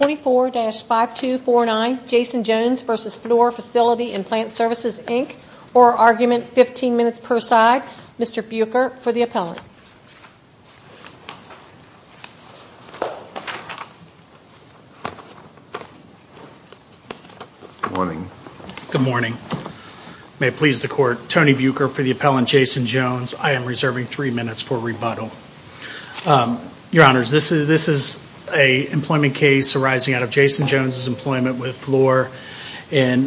24-5249 Jason Jones v. Fluor Facility and Plant Services, Inc. Oral Argument, 15 minutes per side. Mr. Buecher for the appellant. Good morning. May it please the Court, Tony Buecher for the appellant, Jason Jones. I am reserving three minutes for rebuttal. Your Honors, this is an employment case arising out of Jason Jones' employment with Fluor in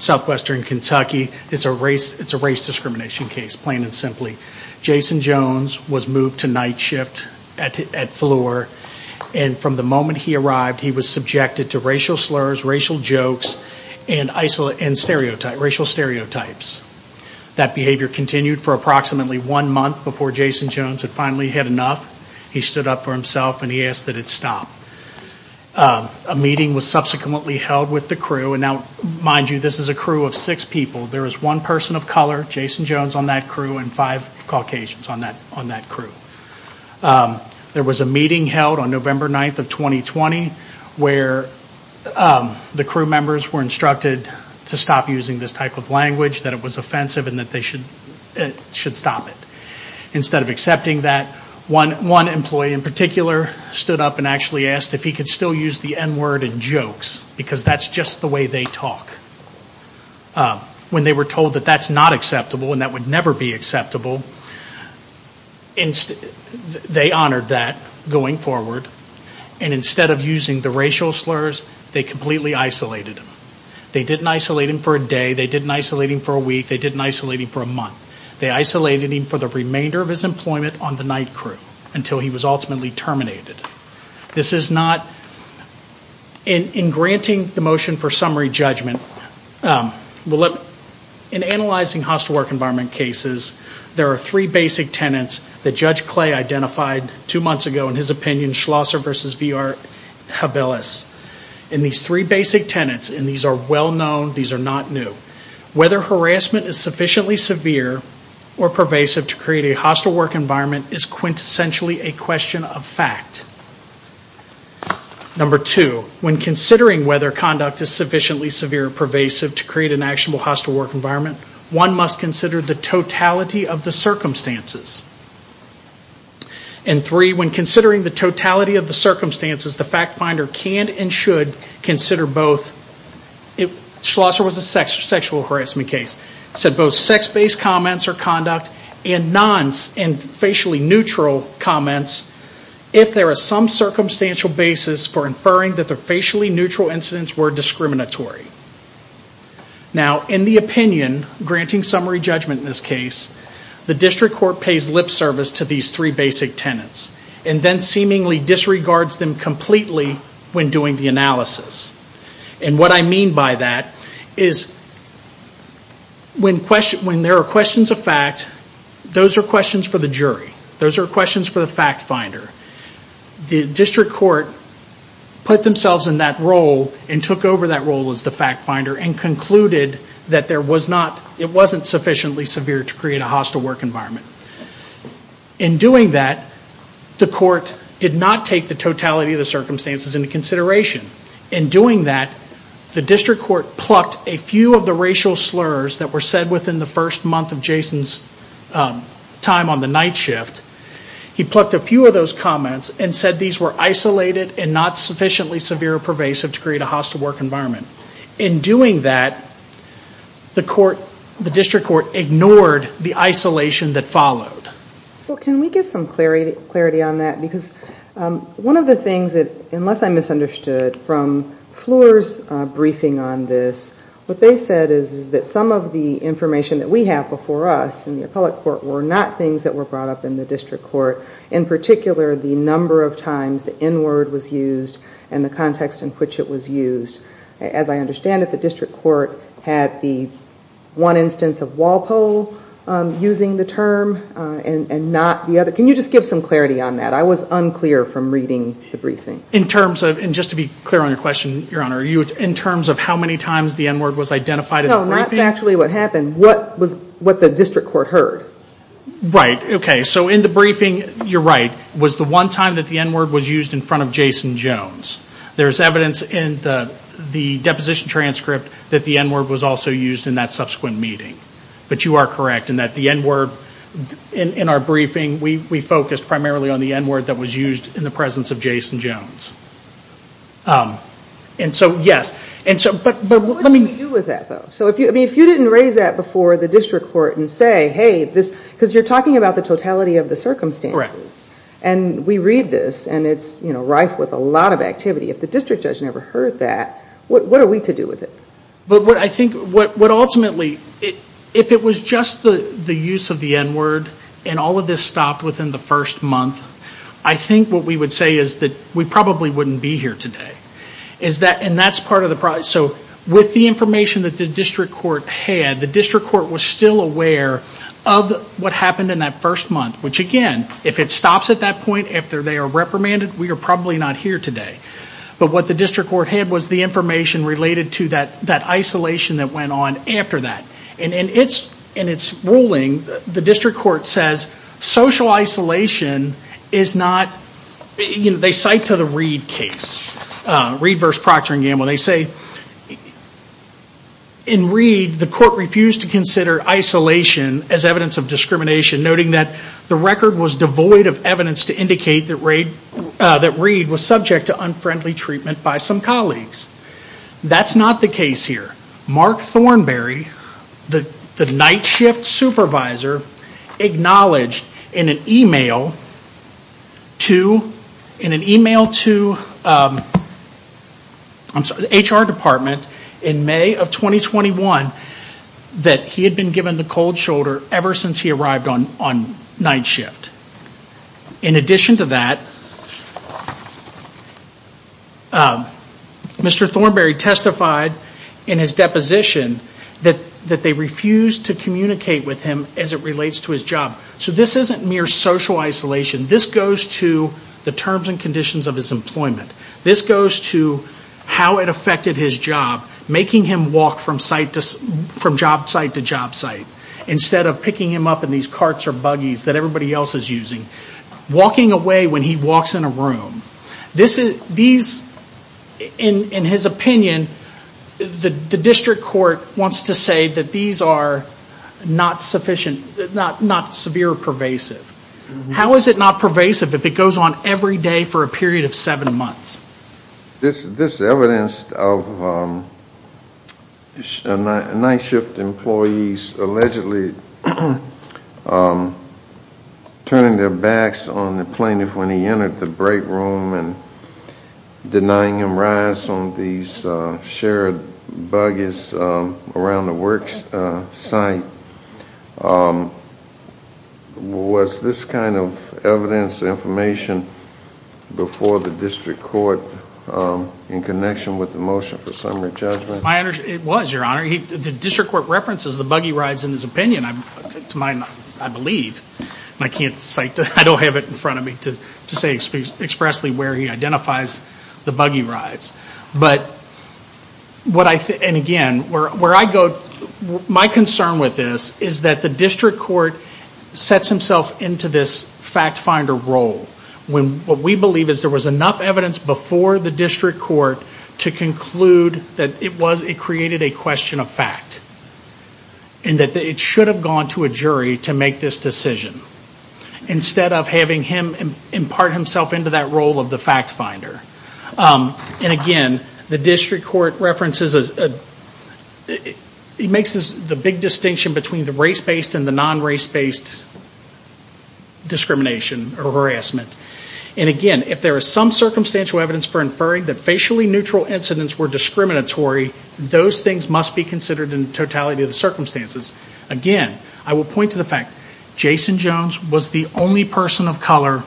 southwestern Kentucky. It's a race discrimination case, plain and simply. Jason Jones was moved to night shift at Fluor, and from the moment he arrived, he was subjected to racial slurs, racial jokes, and racial stereotypes. That behavior continued for approximately one month before Jason Jones had finally had enough. He stood up for himself, and he asked that it stop. A meeting was subsequently held with the crew. And now, mind you, this is a crew of six people. There is one person of color, Jason Jones, on that crew, and five Caucasians on that crew. There was a meeting held on November 9th of 2020 where the crew members were instructed to stop using this type of language, that it was offensive, and that they should stop it. Instead of accepting that, one employee in particular stood up and actually asked if he could still use the N word in jokes, because that's just the way they talk. When they were told that that's not acceptable and that would never be acceptable, they honored that going forward. And instead of using the racial slurs, they completely isolated him. They didn't isolate him for a day, they didn't isolate him for a week, they didn't isolate him for a month. They isolated him for the remainder of his employment on the night crew until he was ultimately terminated. In granting the motion for summary judgment, in analyzing hostile work environment cases, there are three basic tenets that Judge Clay identified two months ago in his opinion, Schlosser v. B.R. Havelis. And these three basic tenets, and these are well known, these are not new. Whether harassment is sufficiently severe or pervasive to create a hostile work environment is quintessentially a question of fact. Number two, when considering whether conduct is sufficiently severe or pervasive to create an actionable hostile work environment, one must consider the totality of the circumstances. And three, when considering the totality of the circumstances, the fact finder can and should consider both, Schlosser was a sexual harassment case, said both sex-based comments or conduct and non-facially neutral comments if there is some circumstantial basis for inferring that the facially neutral incidents were discriminatory. Now, in the opinion, granting summary judgment in this case, the district court pays lip service to these three basic tenets and then seemingly disregards them completely when doing the analysis. And what I mean by that is when there are questions of fact, those are questions for the jury. Those are questions for the fact finder. The district court put themselves in that role and took over that role as the fact finder and concluded that it wasn't sufficiently severe to create a hostile work environment. In doing that, the court did not take the totality of the circumstances into consideration. In doing that, the district court plucked a few of the racial slurs that were said within the first month of Jason's time on the night shift. He plucked a few of those comments and said these were isolated and not sufficiently severe or pervasive to create a hostile work environment. In doing that, the district court ignored the isolation that followed. Well, can we get some clarity on that? Because one of the things that, unless I misunderstood from Fleur's briefing on this, what they said is that some of the information that we have before us in the appellate court were not things that were brought up in the district court, in particular the number of times the N word was used and the context in which it was used. As I understand it, the district court had the one instance of Walpole using the term and not the other. Can you just give some clarity on that? I was unclear from reading the briefing. In terms of, and just to be clear on your question, Your Honor, in terms of how many times the N word was identified in the briefing? No, not actually what happened. What the district court heard. Right, okay. So in the briefing, you're right, was the one time that the N word was used in front of Jason Jones. There's evidence in the deposition transcript that the N word was also used in that subsequent meeting. But you are correct in that the N word in our briefing, we focused primarily on the N word that was used in the presence of Jason Jones. And so, yes. What did we do with that, though? If you didn't raise that before the district court and say, hey, because you're talking about the totality of the circumstances. And we read this and it's rife with a lot of activity. If the district judge never heard that, what are we to do with it? I think what ultimately, if it was just the use of the N word and all of this stopped within the first month, I think what we would say is that we probably wouldn't be here today. And that's part of the problem. So with the information that the district court had, the district court was still aware of what happened in that first month. Which, again, if it stops at that point after they are reprimanded, we are probably not here today. But what the district court had was the information related to that isolation that went on after that. And in its ruling, the district court says social isolation is not, they cite to the Reed case, Reed v. Procter & Gamble. They say in Reed, the court refused to consider isolation as evidence of discrimination, noting that the record was devoid of evidence to indicate that Reed was subject to unfriendly treatment by some colleagues. That's not the case here. Mark Thornberry, the night shift supervisor, acknowledged in an email to the HR department in May of 2021 that he had been given the cold shoulder ever since he arrived on night shift. In addition to that, Mr. Thornberry testified in his deposition that they refused to communicate with him as it relates to his job. So this isn't mere social isolation. This goes to the terms and conditions of his employment. This goes to how it affected his job, making him walk from job site to job site instead of picking him up in these carts or buggies that everybody else is using. Walking away when he walks in a room. In his opinion, the district court wants to say that these are not severe or pervasive. How is it not pervasive if it goes on every day for a period of seven months? This evidence of night shift employees allegedly turning their backs on the plaintiff when he entered the break room and denying him rights on these shared buggies around the work site was this kind of evidence and information before the district court in connection with the motion for summary judgment? It was, your honor. The district court references the buggy rides in his opinion, I believe. I don't have it in front of me to say expressly where he identifies the buggy rides. My concern with this is that the district court sets himself into this fact finder role. What we believe is that there was enough evidence before the district court to conclude that it created a question of fact. It should have gone to a jury to make this decision instead of having him impart himself into that role of the fact finder. Again, the district court makes the big distinction between the race-based and the non-race-based discrimination or harassment. Again, if there is some circumstantial evidence for inferring that facially neutral incidents were discriminatory, those things must be considered in totality of the circumstances. Again, I will point to the fact that Jason Jones was the only person of color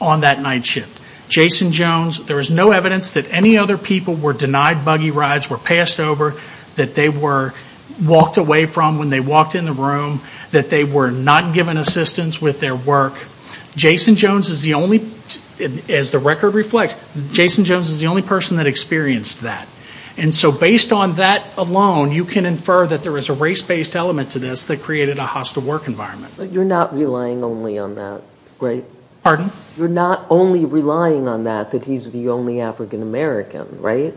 on that night shift. Jason Jones, there is no evidence that any other people were denied buggy rides, were passed over, that they were walked away from when they walked in the room, that they were not given assistance with their work. Jason Jones is the only, as the record reflects, Jason Jones is the only person that experienced that. And so based on that alone, you can infer that there is a race-based element to this that created a hostile work environment. But you're not relying only on that, right? Pardon? You're not only relying on that, that he's the only African-American, right?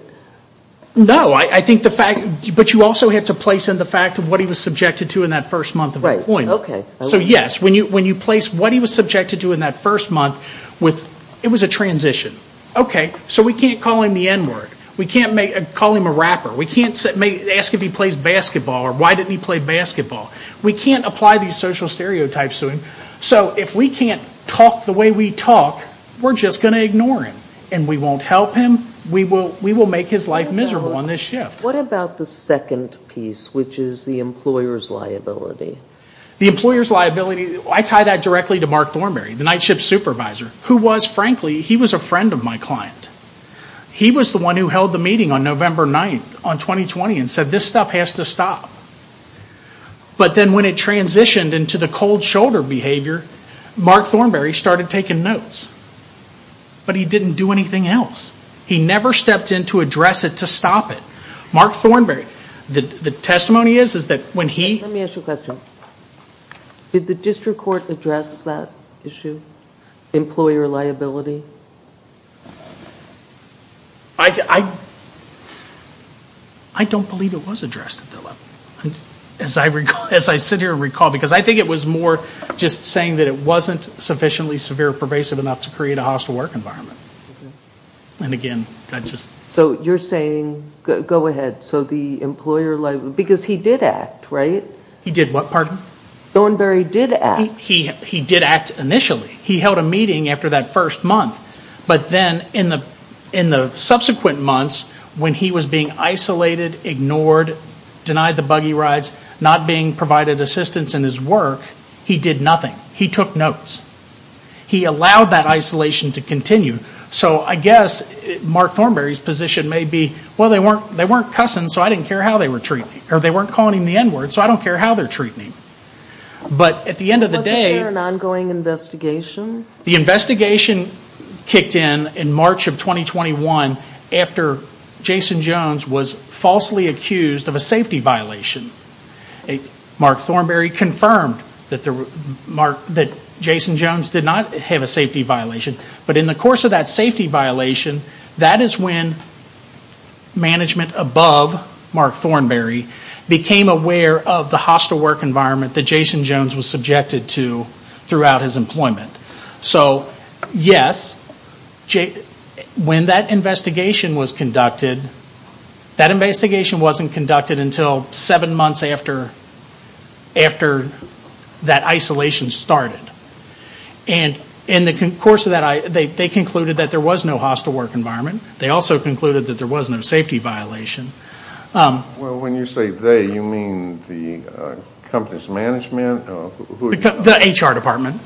No, I think the fact, but you also have to place in the fact of what he was subjected to in that first month of employment. So yes, when you place what he was subjected to in that first month, it was a transition. Okay, so we can't call him the N-word. We can't call him a rapper. We can't ask if he plays basketball or why didn't he play basketball. We can't apply these social stereotypes to him. So if we can't talk the way we talk, we're just going to ignore him. And we won't help him. We will make his life miserable on this shift. What about the second piece, which is the employer's liability? The employer's liability, I tie that directly to Mark Thornberry, the night shift supervisor, who was, frankly, he was a friend of my client. He was the one who held the meeting on November 9th on 2020 and said this stuff has to stop. But then when it transitioned into the cold shoulder behavior, Mark Thornberry started taking notes. But he didn't do anything else. He never stepped in to address it to stop it. Mark Thornberry, the testimony is that when he... Let me ask you a question. Did the district court address that issue, employer liability? I don't believe it was addressed at that level, as I sit here and recall. Because I think it was more just saying that it wasn't sufficiently severe or pervasive enough to create a hostile work environment. And again, I just... So you're saying, go ahead, so the employer liability, because he did act, right? He did what, pardon? Thornberry did act. He did act initially. He held a meeting after that first month. But then in the subsequent months, when he was being isolated, ignored, denied the buggy rides, not being provided assistance in his work, he did nothing. He took notes. He allowed that isolation to continue. So I guess Mark Thornberry's position may be, well, they weren't cussing, so I didn't care how they were treating me. Or they weren't calling him the N-word, so I don't care how they're treating me. But at the end of the day... The investigation kicked in in March of 2021 after Jason Jones was falsely accused of a safety violation. Mark Thornberry confirmed that Jason Jones did not have a safety violation. But in the course of that safety violation, that is when management above Mark Thornberry became aware of the hostile work environment that Jason Jones was subjected to throughout his employment. So yes, when that investigation was conducted, that investigation wasn't conducted until seven months after that isolation started. And in the course of that, they concluded that there was no hostile work environment. They also concluded that there was no safety violation. Well, when you say they, you mean the company's management? The HR department.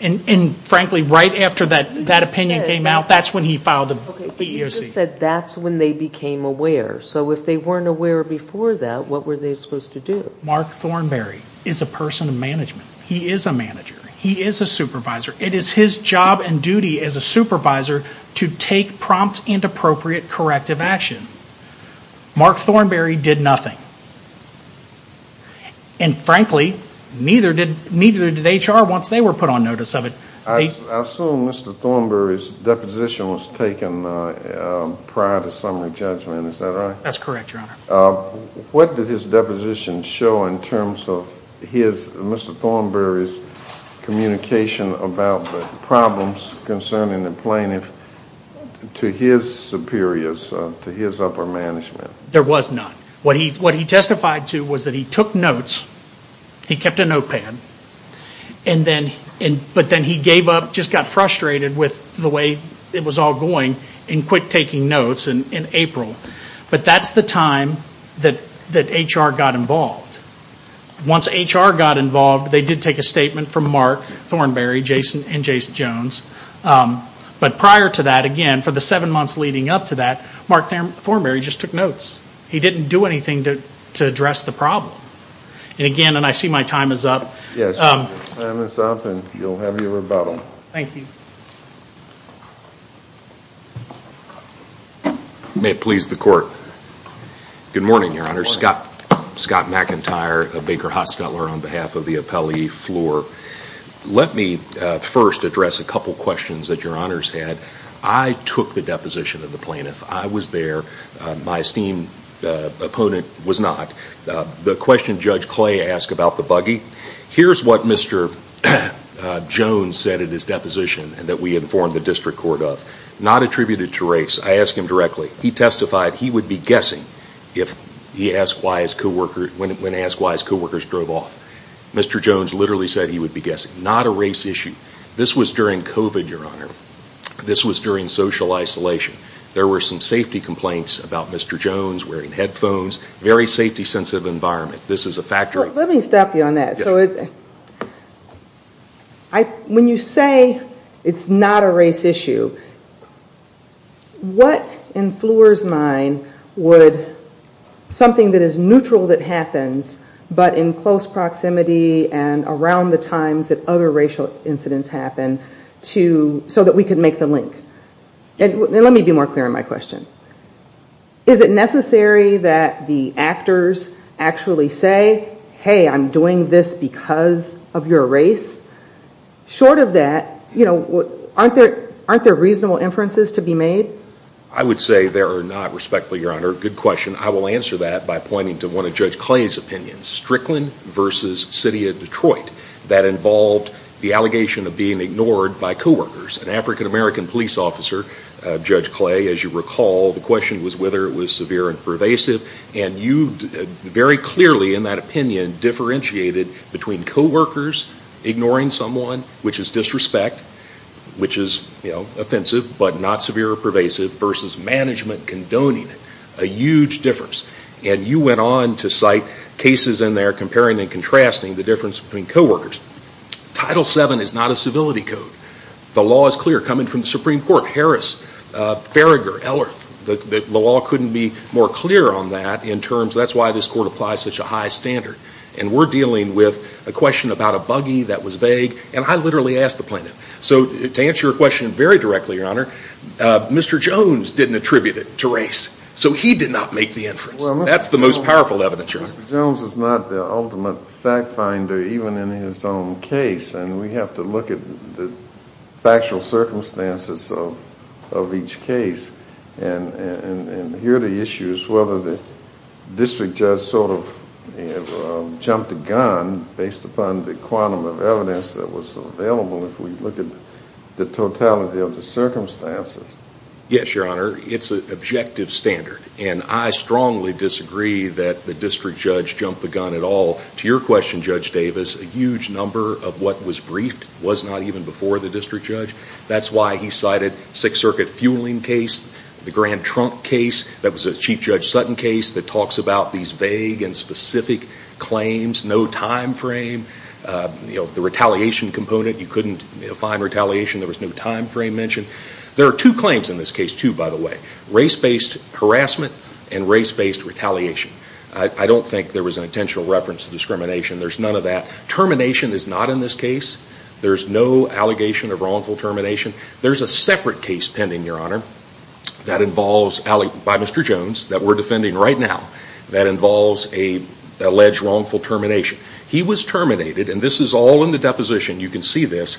And frankly, right after that opinion came out, that's when he filed the EEOC. He just said that's when they became aware. So if they weren't aware before that, what were they supposed to do? Mark Thornberry is a person of management. He is a manager. He is a supervisor. It is his job and duty as a supervisor to take prompt and appropriate corrective action. Mark Thornberry did nothing. And frankly, neither did HR once they were put on notice of it. I assume Mr. Thornberry's deposition was taken prior to summary judgment. Is that right? That's correct, Your Honor. What did his deposition show in terms of Mr. Thornberry's communication about the problems concerning the plaintiff to his superiors, to his upper management? There was none. What he testified to was that he took notes. He kept a notepad. But then he gave up, just got frustrated with the way it was all going, and quit taking notes in April. But that's the time that HR got involved. Once HR got involved, they did take a statement from Mark Thornberry and Jason Jones. But prior to that, again, for the seven months leading up to that, Mark Thornberry just took notes. He didn't do anything to address the problem. And again, and I see my time is up. Yes, your time is up and you'll have your rebuttal. Thank you. May it please the Court. Good morning, Your Honor. Scott McIntyre, a Baker Hot Stutler on behalf of the appellee floor. Let me first address a couple questions that your Honors had. I took the deposition of the plaintiff. I was there. My esteemed opponent was not. The question Judge Clay asked about the buggy, here's what Mr. Jones said in his deposition that we informed the district court of. Not attributed to race. I asked him directly. He testified he would be guessing when asked why his co-workers drove off. Mr. Jones literally said he would be guessing. Not a race issue. This was during COVID, Your Honor. This was during social isolation. There were some safety complaints about Mr. Jones wearing headphones. Very safety-sensitive environment. This is a factory. Let me stop you on that. When you say it's not a race issue, what in Fleur's mind would something that is neutral that happens, but in close proximity and around the times that other racial incidents happen, so that we can make the link? Let me be more clear in my question. Is it necessary that the actors actually say, hey, I'm doing this because of your race? Short of that, aren't there reasonable inferences to be made? I would say there are not, respectfully, Your Honor. Good question. I will answer that by pointing to one of Judge Clay's opinions. Strickland versus City of Detroit. That involved the allegation of being ignored by co-workers. An African-American police officer, Judge Clay, as you recall, the question was whether it was severe and pervasive. And you very clearly, in that opinion, differentiated between co-workers ignoring someone, which is disrespect, which is offensive but not severe or pervasive, versus management condoning it. A huge difference. And you went on to cite cases in there comparing and contrasting the difference between co-workers. Title VII is not a civility code. The law is clear coming from the Supreme Court. Harris, Farragher, Ellerth, the law couldn't be more clear on that in terms of that's why this court applies such a high standard. And we're dealing with a question about a buggy that was vague. And I literally asked the plaintiff. So to answer your question very directly, Your Honor, Mr. Jones didn't attribute it to race. So he did not make the inference. That's the most powerful evidence, Your Honor. Mr. Jones is not the ultimate fact finder, even in his own case. And we have to look at the factual circumstances of each case. And here the issue is whether the district judge sort of jumped the gun based upon the quantum of evidence that was available if we look at the totality of the circumstances. Yes, Your Honor. It's an objective standard. And I strongly disagree that the district judge jumped the gun at all. To your question, Judge Davis, a huge number of what was briefed was not even before the district judge. That's why he cited Sixth Circuit fueling case, the Grand Trunk case. That was a Chief Judge Sutton case that talks about these vague and specific claims. No time frame. The retaliation component, you couldn't find retaliation. There was no time frame mentioned. There are two claims in this case, too, by the way. Race-based harassment and race-based retaliation. I don't think there was an intentional reference to discrimination. There's none of that. Termination is not in this case. There's no allegation of wrongful termination. There's a separate case pending, Your Honor, by Mr. Jones that we're defending right now that involves an alleged wrongful termination. He was terminated, and this is all in the deposition. You can see this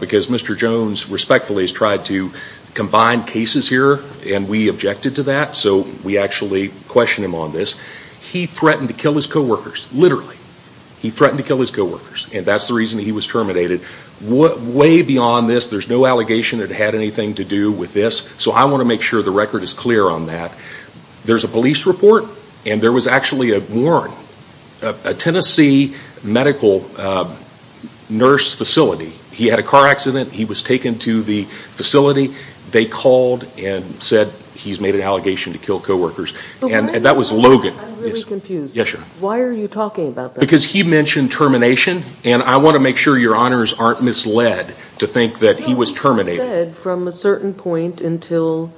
because Mr. Jones respectfully has tried to combine cases here, and we objected to that, so we actually question him on this. He threatened to kill his co-workers, literally. He threatened to kill his co-workers, and that's the reason he was terminated. Way beyond this, there's no allegation that had anything to do with this, so I want to make sure the record is clear on that. There's a police report, and there was actually a warrant, a Tennessee medical nurse facility. He had a car accident. He was taken to the facility. They called and said he's made an allegation to kill co-workers, and that was Logan. I'm really confused. Yes, Your Honor. Why are you talking about that? Because he mentioned termination, and I want to make sure Your Honors aren't misled to think that he was terminated. No, he said from a certain point until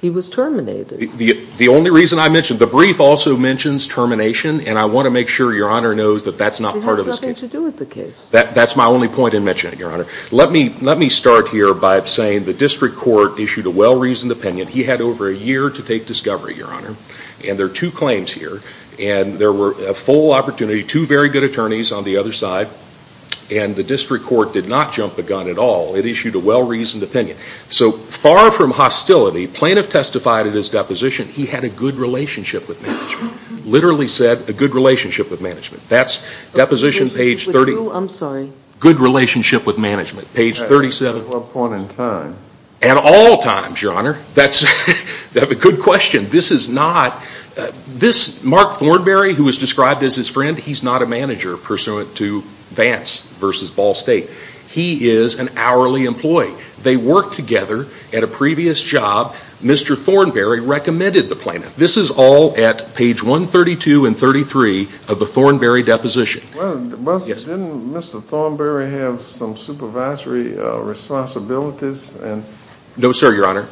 he was terminated. The only reason I mention it, the brief also mentions termination, and I want to make sure Your Honor knows that that's not part of this case. It has nothing to do with the case. That's my only point in mentioning it, Your Honor. Let me start here by saying the district court issued a well-reasoned opinion. He had over a year to take discovery, Your Honor, and there are two claims here, and there were a full opportunity, two very good attorneys on the other side, and the district court did not jump the gun at all. It issued a well-reasoned opinion. So far from hostility, plaintiff testified at his deposition he had a good relationship with management, literally said a good relationship with management. That's deposition page 30. I'm sorry. Good relationship with management, page 37. At what point in time? At all times, Your Honor. That's a good question. This is not, this Mark Thornberry who was described as his friend, he's not a manager pursuant to Vance v. Ball State. He is an hourly employee. They worked together at a previous job. Mr. Thornberry recommended the plaintiff. This is all at page 132 and 33 of the Thornberry deposition. Well, didn't Mr. Thornberry have some supervisory responsibilities? No, sir, Your Honor.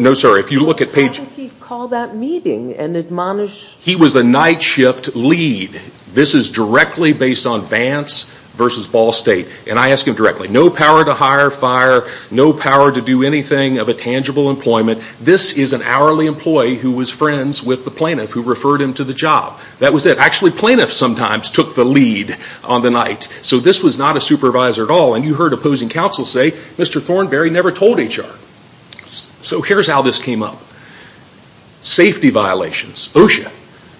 No, sir. If you look at page. Why didn't he call that meeting and admonish? He was a night shift lead. This is directly based on Vance v. Ball State. And I ask him directly, no power to hire, fire, no power to do anything of a tangible employment. This is an hourly employee who was friends with the plaintiff who referred him to the job. That was it. Actually, plaintiffs sometimes took the lead on the night. So this was not a supervisor at all. And you heard opposing counsel say, Mr. Thornberry never told HR. So here's how this came up. Safety violations.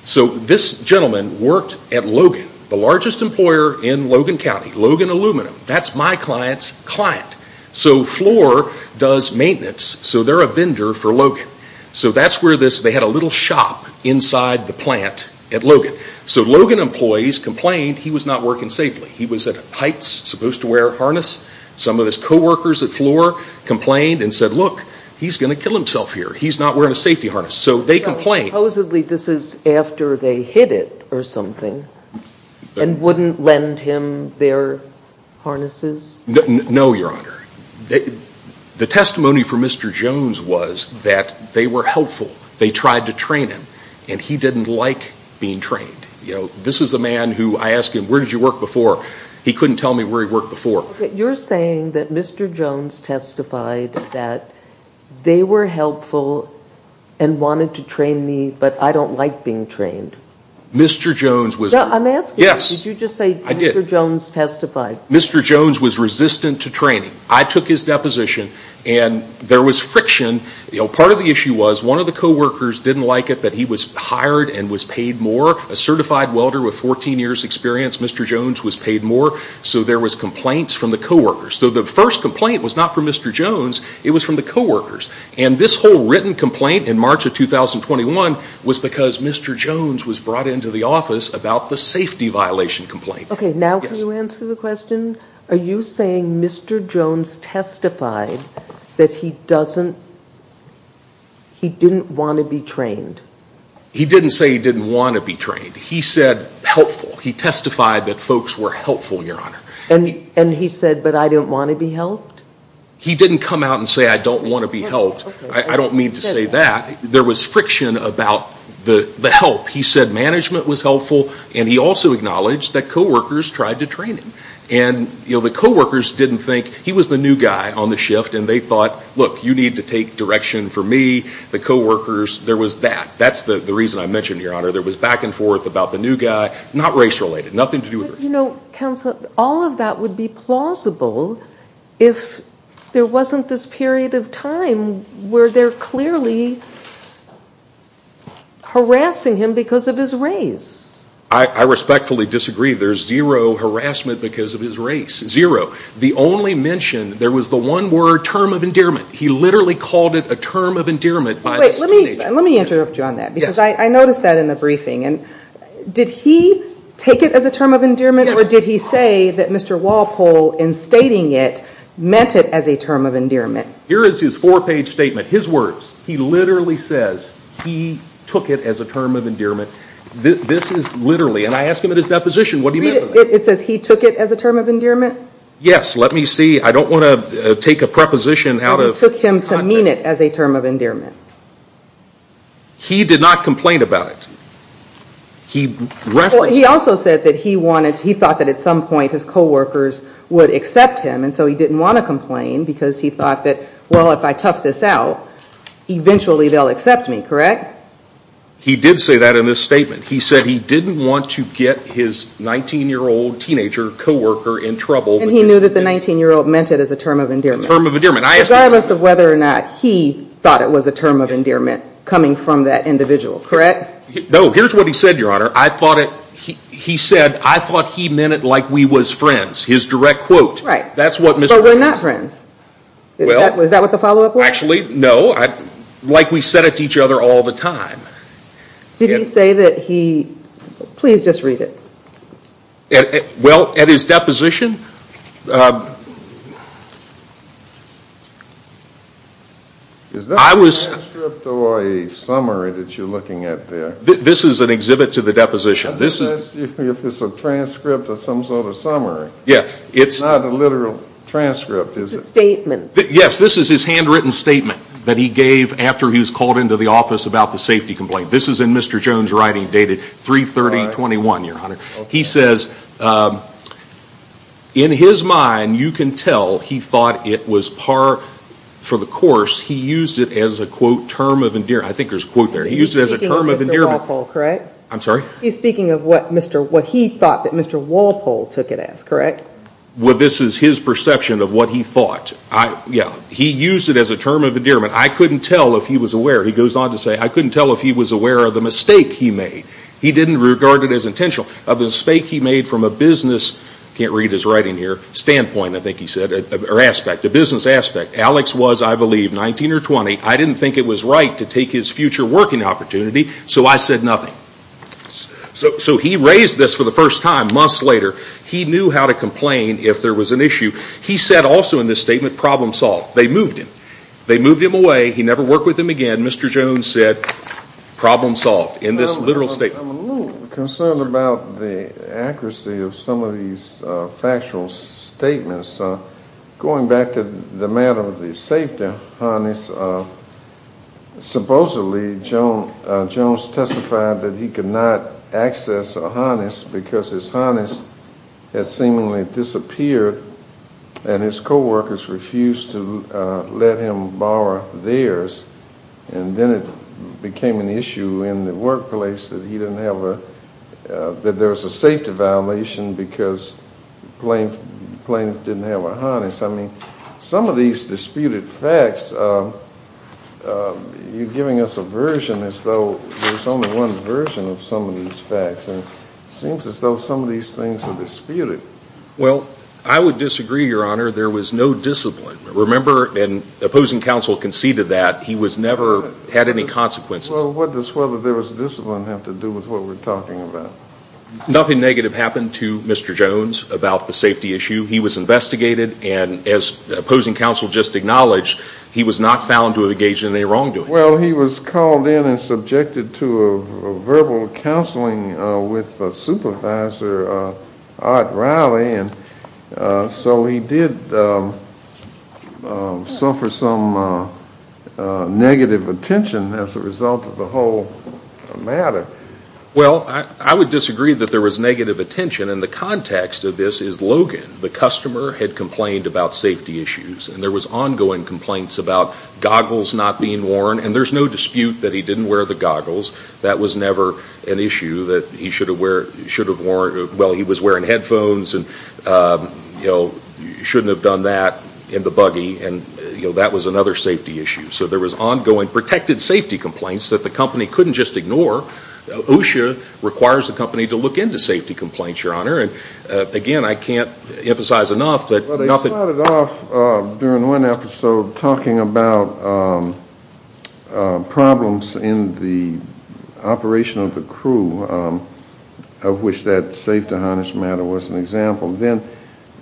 So this gentleman worked at Logan, the largest employer in Logan County. Logan Aluminum. That's my client's client. So Floor does maintenance, so they're a vendor for Logan. So that's where this, they had a little shop inside the plant at Logan. So Logan employees complained he was not working safely. He was at heights, supposed to wear a harness. Some of his co-workers at Floor complained and said, look, he's going to kill himself here. He's not wearing a safety harness. So they complained. So supposedly this is after they hit it or something and wouldn't lend him their harnesses? No, Your Honor. The testimony for Mr. Jones was that they were helpful. They tried to train him. And he didn't like being trained. You know, this is a man who I ask him, where did you work before? He couldn't tell me where he worked before. You're saying that Mr. Jones testified that they were helpful and wanted to train me, but I don't like being trained. Mr. Jones was... I'm asking you, did you just say Mr. Jones testified? Mr. Jones was resistant to training. I took his deposition and there was friction. Part of the issue was one of the co-workers didn't like it that he was hired and was paid more. A certified welder with 14 years' experience, Mr. Jones was paid more. So there was complaints from the co-workers. So the first complaint was not from Mr. Jones. It was from the co-workers. And this whole written complaint in March of 2021 was because Mr. Jones was brought into the office about the safety violation complaint. Okay, now can you answer the question? Are you saying Mr. Jones testified that he doesn't... He didn't want to be trained? He didn't say he didn't want to be trained. He said helpful. He testified that folks were helpful, Your Honor. And he said, but I don't want to be helped? He didn't come out and say, I don't want to be helped. I don't mean to say that. There was friction about the help. He said management was helpful and he also acknowledged that co-workers tried to train him. And the co-workers didn't think... He was the new guy on the shift and they thought, look, you need to take direction for me. The co-workers, there was that. That's the reason I mentioned it, Your Honor. There was back and forth about the new guy. Not race related. Nothing to do with race. You know, counsel, all of that would be plausible if there wasn't this period of time where they're clearly harassing him because of his race. I respectfully disagree. There's zero harassment because of his race. Zero. The only mention, there was the one word, term of endearment. He literally called it a term of endearment by this teenager. Let me interrupt you on that because I noticed that in the briefing. Did he take it as a term of endearment or did he say that Mr. Walpole, in stating it, meant it as a term of endearment? Here is his four-page statement, his words. He literally says he took it as a term of endearment. This is literally, and I asked him at his deposition, what do you mean? It says he took it as a term of endearment? Yes. Let me see. I don't want to take a preposition out of context. He took him to mean it as a term of endearment. He did not complain about it. He referenced it. He also said that he wanted, he thought that at some point his coworkers would accept him and so he didn't want to complain because he thought that, well, if I tough this out, eventually they'll accept me, correct? He did say that in his statement. He said he didn't want to get his 19-year-old teenager coworker in trouble. And he knew that the 19-year-old meant it as a term of endearment? A term of endearment. Regardless of whether or not he thought it was a term of endearment coming from that individual, correct? No. Here's what he said, Your Honor. He said, I thought he meant it like we was friends, his direct quote. Right. But we're not friends. Is that what the follow-up was? Actually, no. Like we said it to each other all the time. Did he say that he, please just read it. Well, at his deposition, I was. Is that a transcript or a summary that you're looking at there? This is an exhibit to the deposition. I'm just asking you if it's a transcript or some sort of summary. Yeah. It's not a literal transcript, is it? It's a statement. Yes, this is his handwritten statement that he gave after he was called into the office about the safety complaint. This is in Mr. Jones' writing dated 3-30-21, Your Honor. He says, in his mind, you can tell he thought it was par for the course. He used it as a, quote, term of endearment. I think there's a quote there. He used it as a term of endearment. He's speaking of Mr. Walpole, correct? I'm sorry? He's speaking of what he thought that Mr. Walpole took it as, correct? Well, this is his perception of what he thought. Yeah. He used it as a term of endearment. I couldn't tell if he was aware. He goes on to say, I couldn't tell if he was aware of the mistake he made. He didn't regard it as intentional. Of the mistake he made from a business, can't read his writing here, standpoint, I think he said, or aspect, a business aspect. Alex was, I believe, 19 or 20. I didn't think it was right to take his future working opportunity, so I said nothing. So he raised this for the first time months later. He knew how to complain if there was an issue. He said also in this statement, problem solved. They moved him. They moved him away. He never worked with him again. Mr. Jones said, problem solved in this literal statement. I'm a little concerned about the accuracy of some of these factual statements. Going back to the matter of the safety harness, supposedly Jones testified that he could not access a harness because his harness had seemingly disappeared and his coworkers refused to let him borrow theirs, and then it became an issue in the workplace that he didn't have a, that there was a safety violation because Plaintiff didn't have a harness. I mean, some of these disputed facts, you're giving us a version as though there's only one version of some of these facts, and it seems as though some of these things are disputed. Well, I would disagree, Your Honor. There was no disappointment. Remember, and opposing counsel conceded that, he never had any consequences. Well, what does whether there was discipline have to do with what we're talking about? Nothing negative happened to Mr. Jones about the safety issue. He was investigated, and as opposing counsel just acknowledged, he was not found to have engaged in any wrongdoing. Well, he was called in and subjected to a verbal counseling with Supervisor Ott Riley, and so he did suffer some negative attention as a result of the whole matter. Well, I would disagree that there was negative attention, and the context of this is Logan, the customer, had complained about safety issues, and there was ongoing complaints about goggles not being worn, and there's no dispute that he didn't wear the goggles. That was never an issue that he should have worn. Well, he was wearing headphones, and he shouldn't have done that in the buggy, and that was another safety issue. So there was ongoing protected safety complaints that the company couldn't just ignore. OSHA requires the company to look into safety complaints, Your Honor, and again, I can't emphasize enough that nothing – during one episode talking about problems in the operation of the crew, of which that safety harness matter was an example, then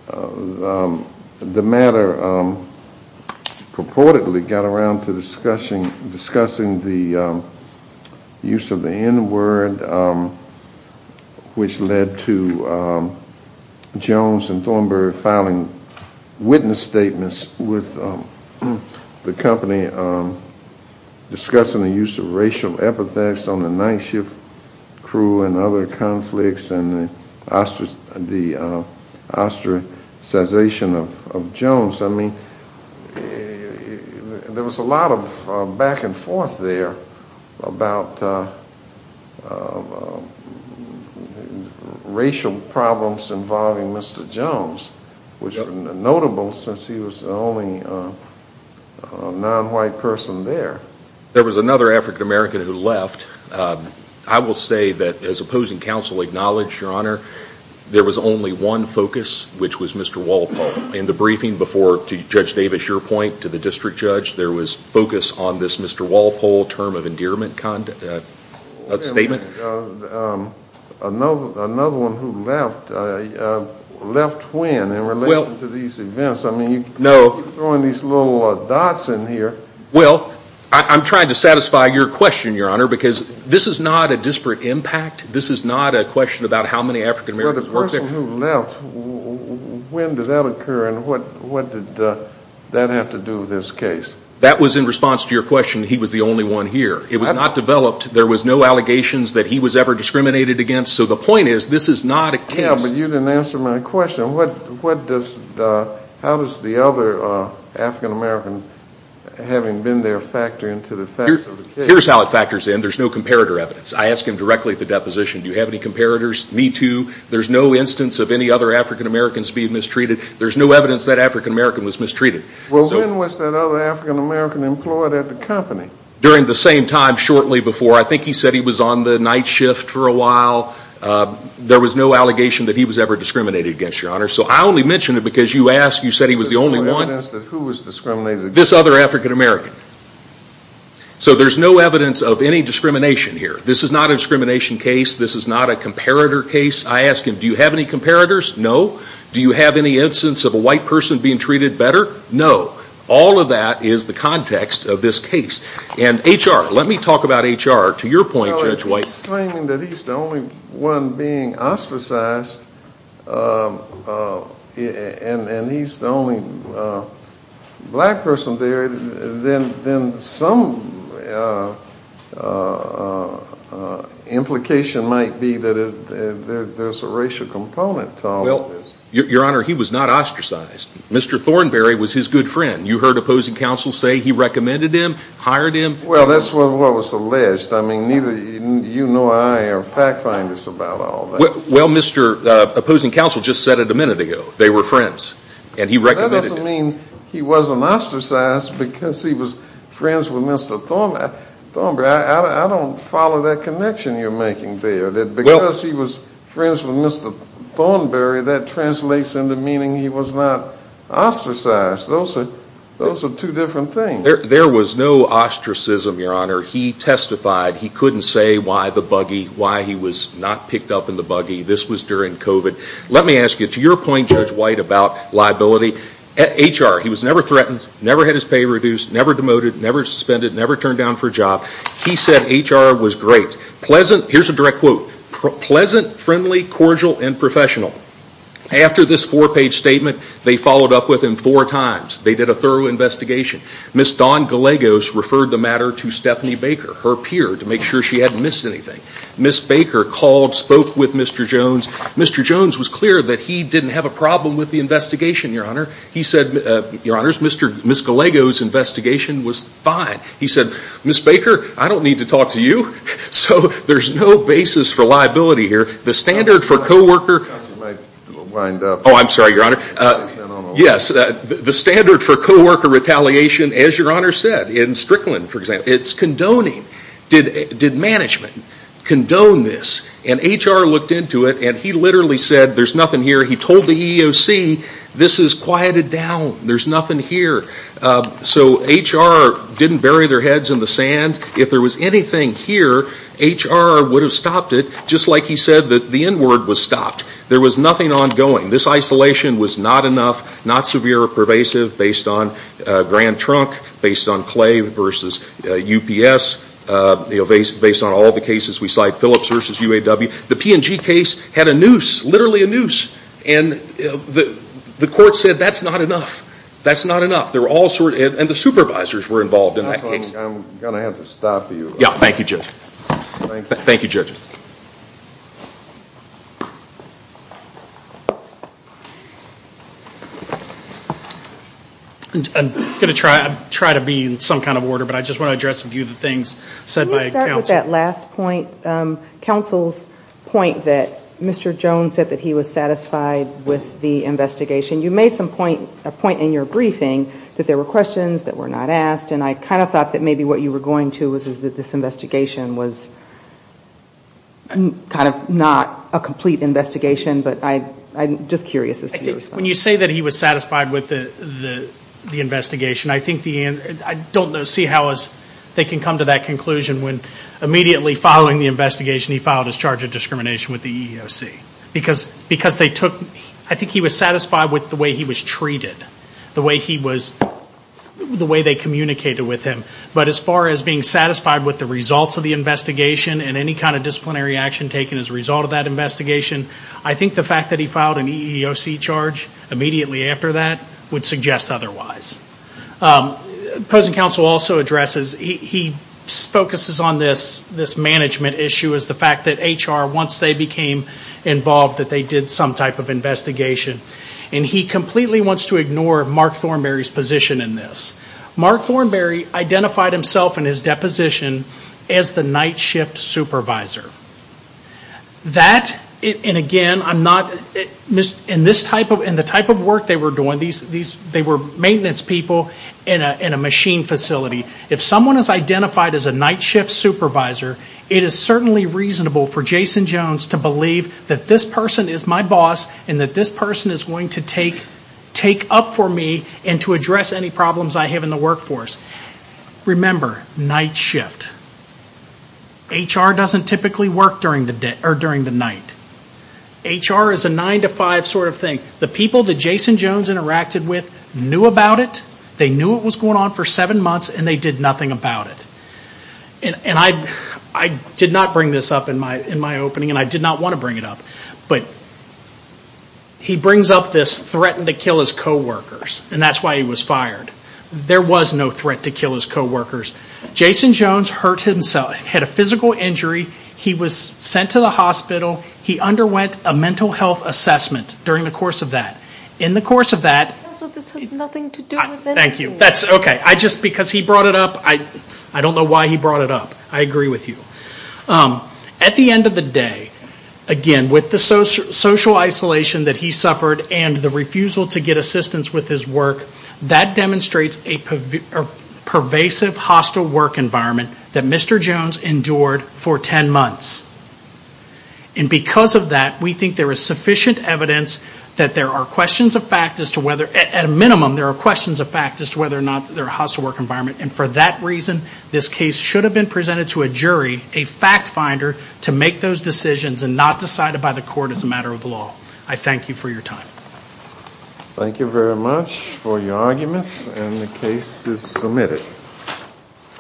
the matter purportedly got around to discussing the use of the N-word, which led to Jones and Thornberry filing witness statements with the company discussing the use of racial epithets on the night shift crew and other conflicts and the ostracization of Jones. I mean, there was a lot of back and forth there about racial problems involving Mr. Jones, which was notable since he was the only non-white person there. There was another African American who left. I will say that, as opposing counsel acknowledged, Your Honor, there was only one focus, which was Mr. Walpole. In the briefing before, to Judge Davis, your point to the district judge, there was focus on this Mr. Walpole term of endearment statement. Another one who left. Left when in relation to these events? I mean, you keep throwing these little dots in here. Well, I'm trying to satisfy your question, Your Honor, because this is not a disparate impact. This is not a question about how many African Americans worked there. Well, the person who left, when did that occur and what did that have to do with this case? That was in response to your question, he was the only one here. It was not developed. There was no allegations that he was ever discriminated against. So the point is, this is not a case. Yeah, but you didn't answer my question. How does the other African American, having been there, factor into the facts of the case? Here's how it factors in. There's no comparator evidence. I ask him directly at the deposition, do you have any comparators? Me too. There's no instance of any other African Americans being mistreated. There's no evidence that African American was mistreated. Well, when was that other African American employed at the company? During the same time, shortly before. I think he said he was on the night shift for a while. There was no allegation that he was ever discriminated against, Your Honor. So I only mention it because you asked, you said he was the only one. There's no evidence that who was discriminated against? This other African American. So there's no evidence of any discrimination here. This is not a discrimination case. This is not a comparator case. I ask him, do you have any comparators? No. Do you have any instance of a white person being treated better? No. All of that is the context of this case. And HR, let me talk about HR. To your point, Judge White. If he's claiming that he's the only one being ostracized, and he's the only black person there, then some implication might be that there's a racial component to all of this. Your Honor, he was not ostracized. Mr. Thornberry was his good friend. You heard opposing counsel say he recommended him, hired him. Well, that's what was alleged. I mean, neither you nor I are fact finders about all that. Well, Mr. Opposing Counsel just said it a minute ago. They were friends, and he recommended him. That doesn't mean he wasn't ostracized because he was friends with Mr. Thornberry. I don't follow that connection you're making there. Because he was friends with Mr. Thornberry, that translates into meaning he was not ostracized. Those are two different things. There was no ostracism, Your Honor. He testified. He couldn't say why the buggy, why he was not picked up in the buggy. This was during COVID. Let me ask you, to your point, Judge White, about liability, HR, he was never threatened, never had his pay reduced, never demoted, never suspended, never turned down for a job. He said HR was great. Here's a direct quote. Pleasant, friendly, cordial, and professional. After this four-page statement, they followed up with him four times. They did a thorough investigation. Ms. Dawn Gallegos referred the matter to Stephanie Baker, her peer, to make sure she hadn't missed anything. Ms. Baker called, spoke with Mr. Jones. Mr. Jones was clear that he didn't have a problem with the investigation, Your Honor. He said, Your Honors, Ms. Gallegos' investigation was fine. He said, Ms. Baker, I don't need to talk to you. So there's no basis for liability here. The standard for co-worker Oh, I'm sorry, Your Honor. Yes, the standard for co-worker retaliation, as Your Honor said, in Strickland, for example, it's condoning. Did management condone this? And HR looked into it, and he literally said, there's nothing here. He told the EEOC, this is quieted down. There's nothing here. So HR didn't bury their heads in the sand. If there was anything here, HR would have stopped it, just like he said that the N-word was stopped. There was nothing ongoing. This isolation was not enough, not severe or pervasive, based on Grand Trunk, based on Clay v. UPS, based on all the cases we cite, Phillips v. UAW. The P&G case had a noose, literally a noose. And the court said, that's not enough. That's not enough. And the supervisors were involved in that case. I'm going to have to stop you. Yeah, thank you, Judge. Thank you, Judge. I'm going to try to be in some kind of order, but I just want to address a few of the things said by counsel. Can you start with that last point? Counsel's point that Mr. Jones said that he was satisfied with the investigation. You made a point in your briefing that there were questions that were not asked, and I kind of thought that maybe what you were going to was that this investigation was kind of not a complete investigation. But I'm just curious as to your response. When you say that he was satisfied with the investigation, I don't see how they can come to that conclusion when immediately following the investigation, he filed his charge of discrimination with the EEOC. Because they took, I think he was satisfied with the way he was treated. The way he was, the way they communicated with him. But as far as being satisfied with the results of the investigation and any kind of disciplinary action taken as a result of that investigation, I think the fact that he filed an EEOC charge immediately after that would suggest otherwise. Opposing counsel also addresses, he focuses on this management issue as the fact that HR, once they became involved, that they did some type of investigation. And he completely wants to ignore Mark Thornberry's position in this. Mark Thornberry identified himself in his deposition as the night shift supervisor. That, and again, in the type of work they were doing, they were maintenance people in a machine facility. If someone is identified as a night shift supervisor, it is certainly reasonable for Jason Jones to believe that this person is my boss and that this person is going to take up for me and to address any problems I have in the workforce. Remember, night shift. HR doesn't typically work during the night. HR is a 9 to 5 sort of thing. The people that Jason Jones interacted with knew about it. They knew it was going on for 7 months and they did nothing about it. And I did not bring this up in my opening and I did not want to bring it up, but he brings up this threatened to kill his co-workers and that's why he was fired. There was no threat to kill his co-workers. Jason Jones hurt himself, had a physical injury. He was sent to the hospital. He underwent a mental health assessment during the course of that. This has nothing to do with anything. Thank you. Just because he brought it up, I don't know why he brought it up. I agree with you. At the end of the day, again, with the social isolation that he suffered and the refusal to get assistance with his work, that demonstrates a pervasive hostile work environment that Mr. Jones endured for 10 months. And because of that, we think there is sufficient evidence that there are questions of fact as to whether, at a minimum, there are questions of fact as to whether or not there is a hostile work environment. And for that reason, this case should have been presented to a jury, a fact finder, to make those decisions and not decided by the court as a matter of law. I thank you for your time. Thank you very much for your arguments and the case is submitted.